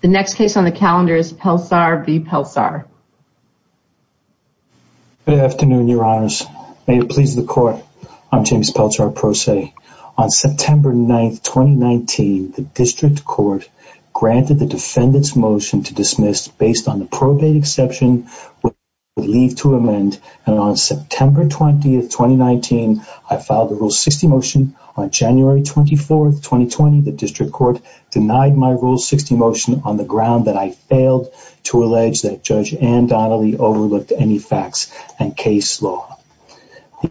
The next case on the calendar is Pelczar v. Pelczar. Good afternoon, your honors. May it please the court. I'm James Pelczar, pro se. On September 9th, 2019, the district court granted the defendant's motion to dismiss based on the probate exception with leave to amend and on September 20th, 2019, I filed a rule 60 motion on January 24th, 2020. The district court denied my rule 60 motion on the ground that I failed to allege that Judge Ann Donnelly overlooked any facts and case law.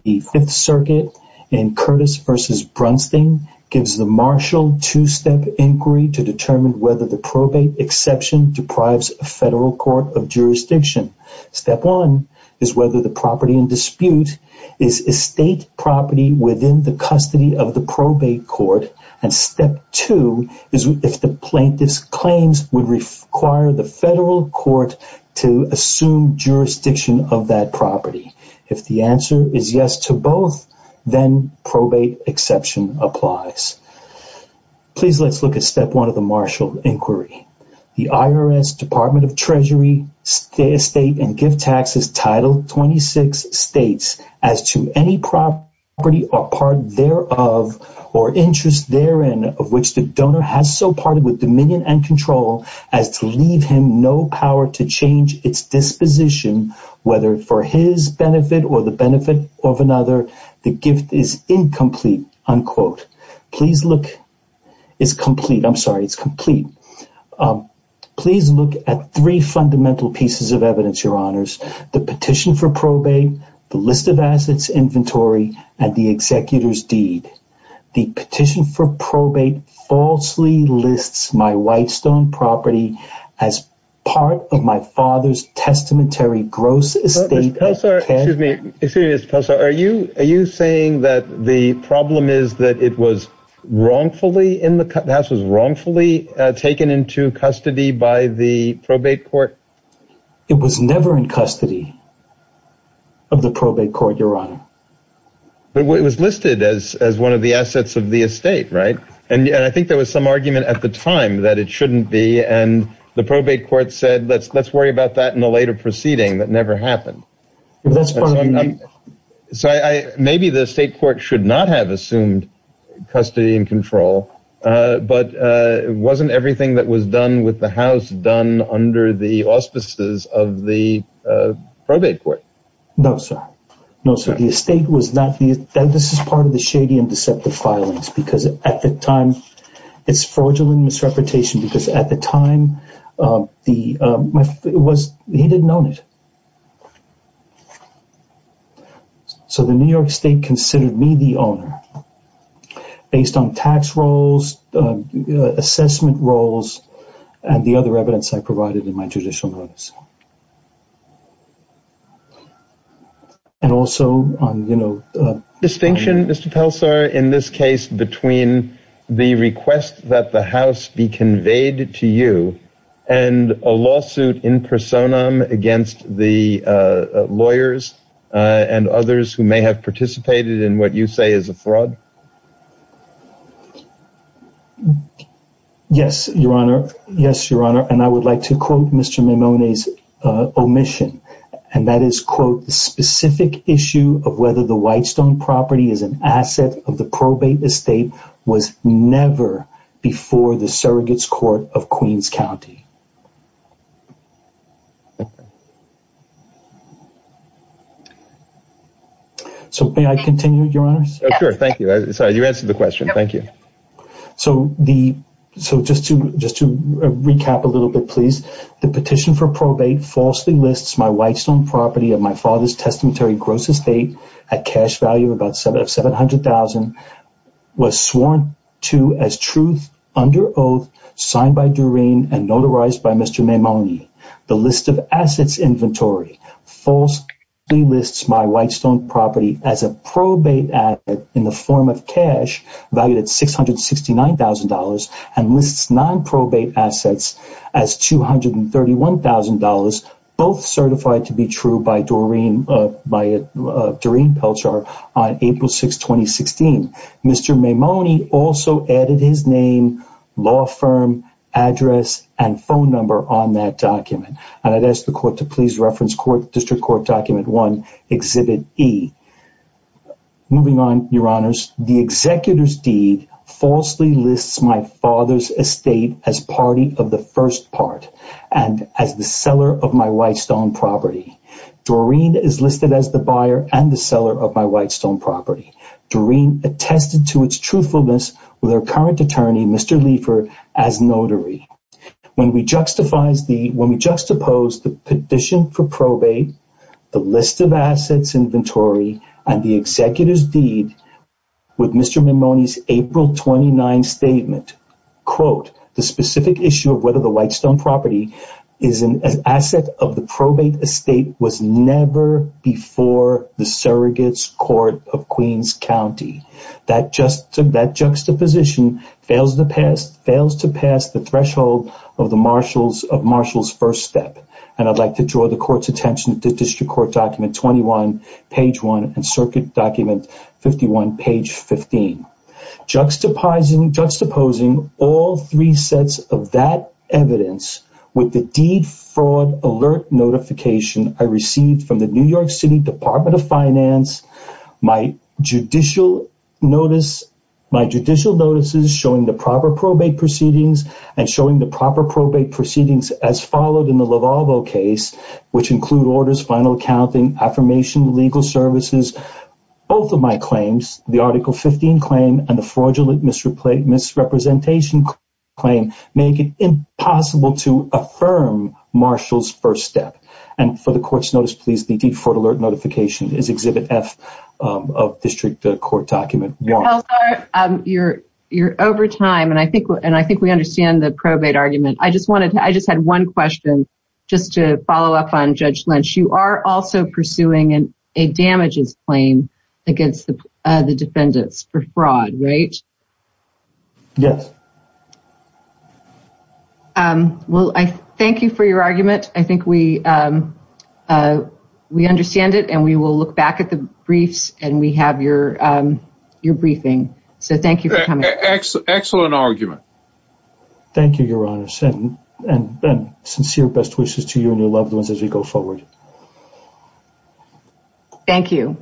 The fifth circuit in Curtis v. Brunstein gives the marshal two-step inquiry to determine whether the probate exception deprives a federal court of jurisdiction. Step one is whether the property in dispute is estate property within the state, two is if the plaintiff's claims would require the federal court to assume jurisdiction of that property. If the answer is yes to both, then probate exception applies. Please let's look at step one of the marshal inquiry. The IRS Department of Treasury, estate and gift taxes title 26 states as to any property or part thereof or interest therein of which the donor has so parted with dominion and control as to leave him no power to change its disposition, whether for his benefit or the benefit of another, the gift is incomplete, unquote. Please look, it's complete. I'm sorry, it's complete. Please look at three fundamental pieces of evidence, your honors, the petition for probate and the executor's deed. The petition for probate falsely lists my Whitestone property as part of my father's testamentary gross estate. Excuse me, are you are you saying that the problem is that it was wrongfully in the house, was wrongfully taken into custody by the probate court? It was never in custody. Of the probate court, your honor. But it was listed as as one of the assets of the estate. Right. And I think there was some argument at the time that it shouldn't be. And the probate court said, let's let's worry about that in a later proceeding that never happened. That's fine. So maybe the state court should not have assumed custody and control. But it wasn't everything that was done with the house done under the auspices of the probate court. No, sir. No, sir. The estate was that this is part of the shady and deceptive filings because at the time it's fraudulent misrepresentation because at the time the it was he didn't own it. So the New York state considered me the owner based on tax rolls, assessment rolls and the other evidence I provided in my judicial notice. And also on, you know, distinction, Mr. Pelser, in this case between the request that the house be conveyed to you and a lawsuit in personam against the lawyers and others who may have participated in what you say is a fraud. Yes, your honor. Yes, your honor. And I would like to quote Mr. Mimone's omission, and that is, quote, the specific issue of whether the Whitestone property is an asset of the probate estate was never before the surrogates court of Queens County. So may I continue, your honors? Sure. Thank you. Sorry, you answered the question. Thank you. So the so just to just to recap a little bit, please. The petition for probate falsely lists my Whitestone property of my father's testamentary gross estate at cash value of about seven of seven hundred thousand was sworn to as truth under oath signed by Doreen and notarized by Mr. Mimone. The list of assets inventory false lists my Whitestone property as a probate in the form of cash valued at six hundred sixty nine thousand dollars and lists non probate assets as two hundred and thirty one thousand dollars, both certified to be true by Doreen by Doreen Peltzer on April 6, 2016. Mr. Mimone also added his name, law firm address and phone number on that document. And I'd ask the court to please reference court district court document one exhibit E. Moving on, your honors, the executor's deed falsely lists my father's estate as party of the first part and as the seller of my Whitestone property. Doreen is listed as the buyer and the seller of my Whitestone property. Doreen attested to its truthfulness with our current attorney, Mr. Leifer, as notary. When we justifies the when we juxtapose the petition for probate, the list of assets inventory and the executor's deed with Mr. Mimone's April twenty nine statement, quote, the specific issue of whether the Whitestone property is an asset of the probate estate was never before the surrogates court of Queens County. That just that juxtaposition fails to pass, fails to pass the threshold of the marshals of Marshall's first step. And I'd like to draw the court's attention to district court document twenty one page one and circuit document fifty one page fifteen. Juxtaposing juxtaposing all three sets of that evidence with the deed fraud alert notification I received from the New York City Department of Finance. My judicial notice, my judicial notices showing the proper probate proceedings and showing the proper probate proceedings as followed in the case, which include orders, final accounting, affirmation, legal services, both of my claims, the article 15 claim and the fraudulent misrepresentation claim make it impossible to affirm Marshall's first step. And for the court's notice, please, the deed fraud alert notification is exhibit F of district court document. You're over time and I think and I think we understand the probate argument. I just wanted to I just had one question just to follow up on Judge Lynch. You are also pursuing a damages claim against the defendants for fraud, right? Yes. Well, I thank you for your argument. I think we we understand it and we will look back at the briefs and we have your your briefing. So thank you for coming. Excellent. Excellent argument. Thank you, Your Honor. And then sincere best wishes to you and your loved ones as we go forward. Thank you.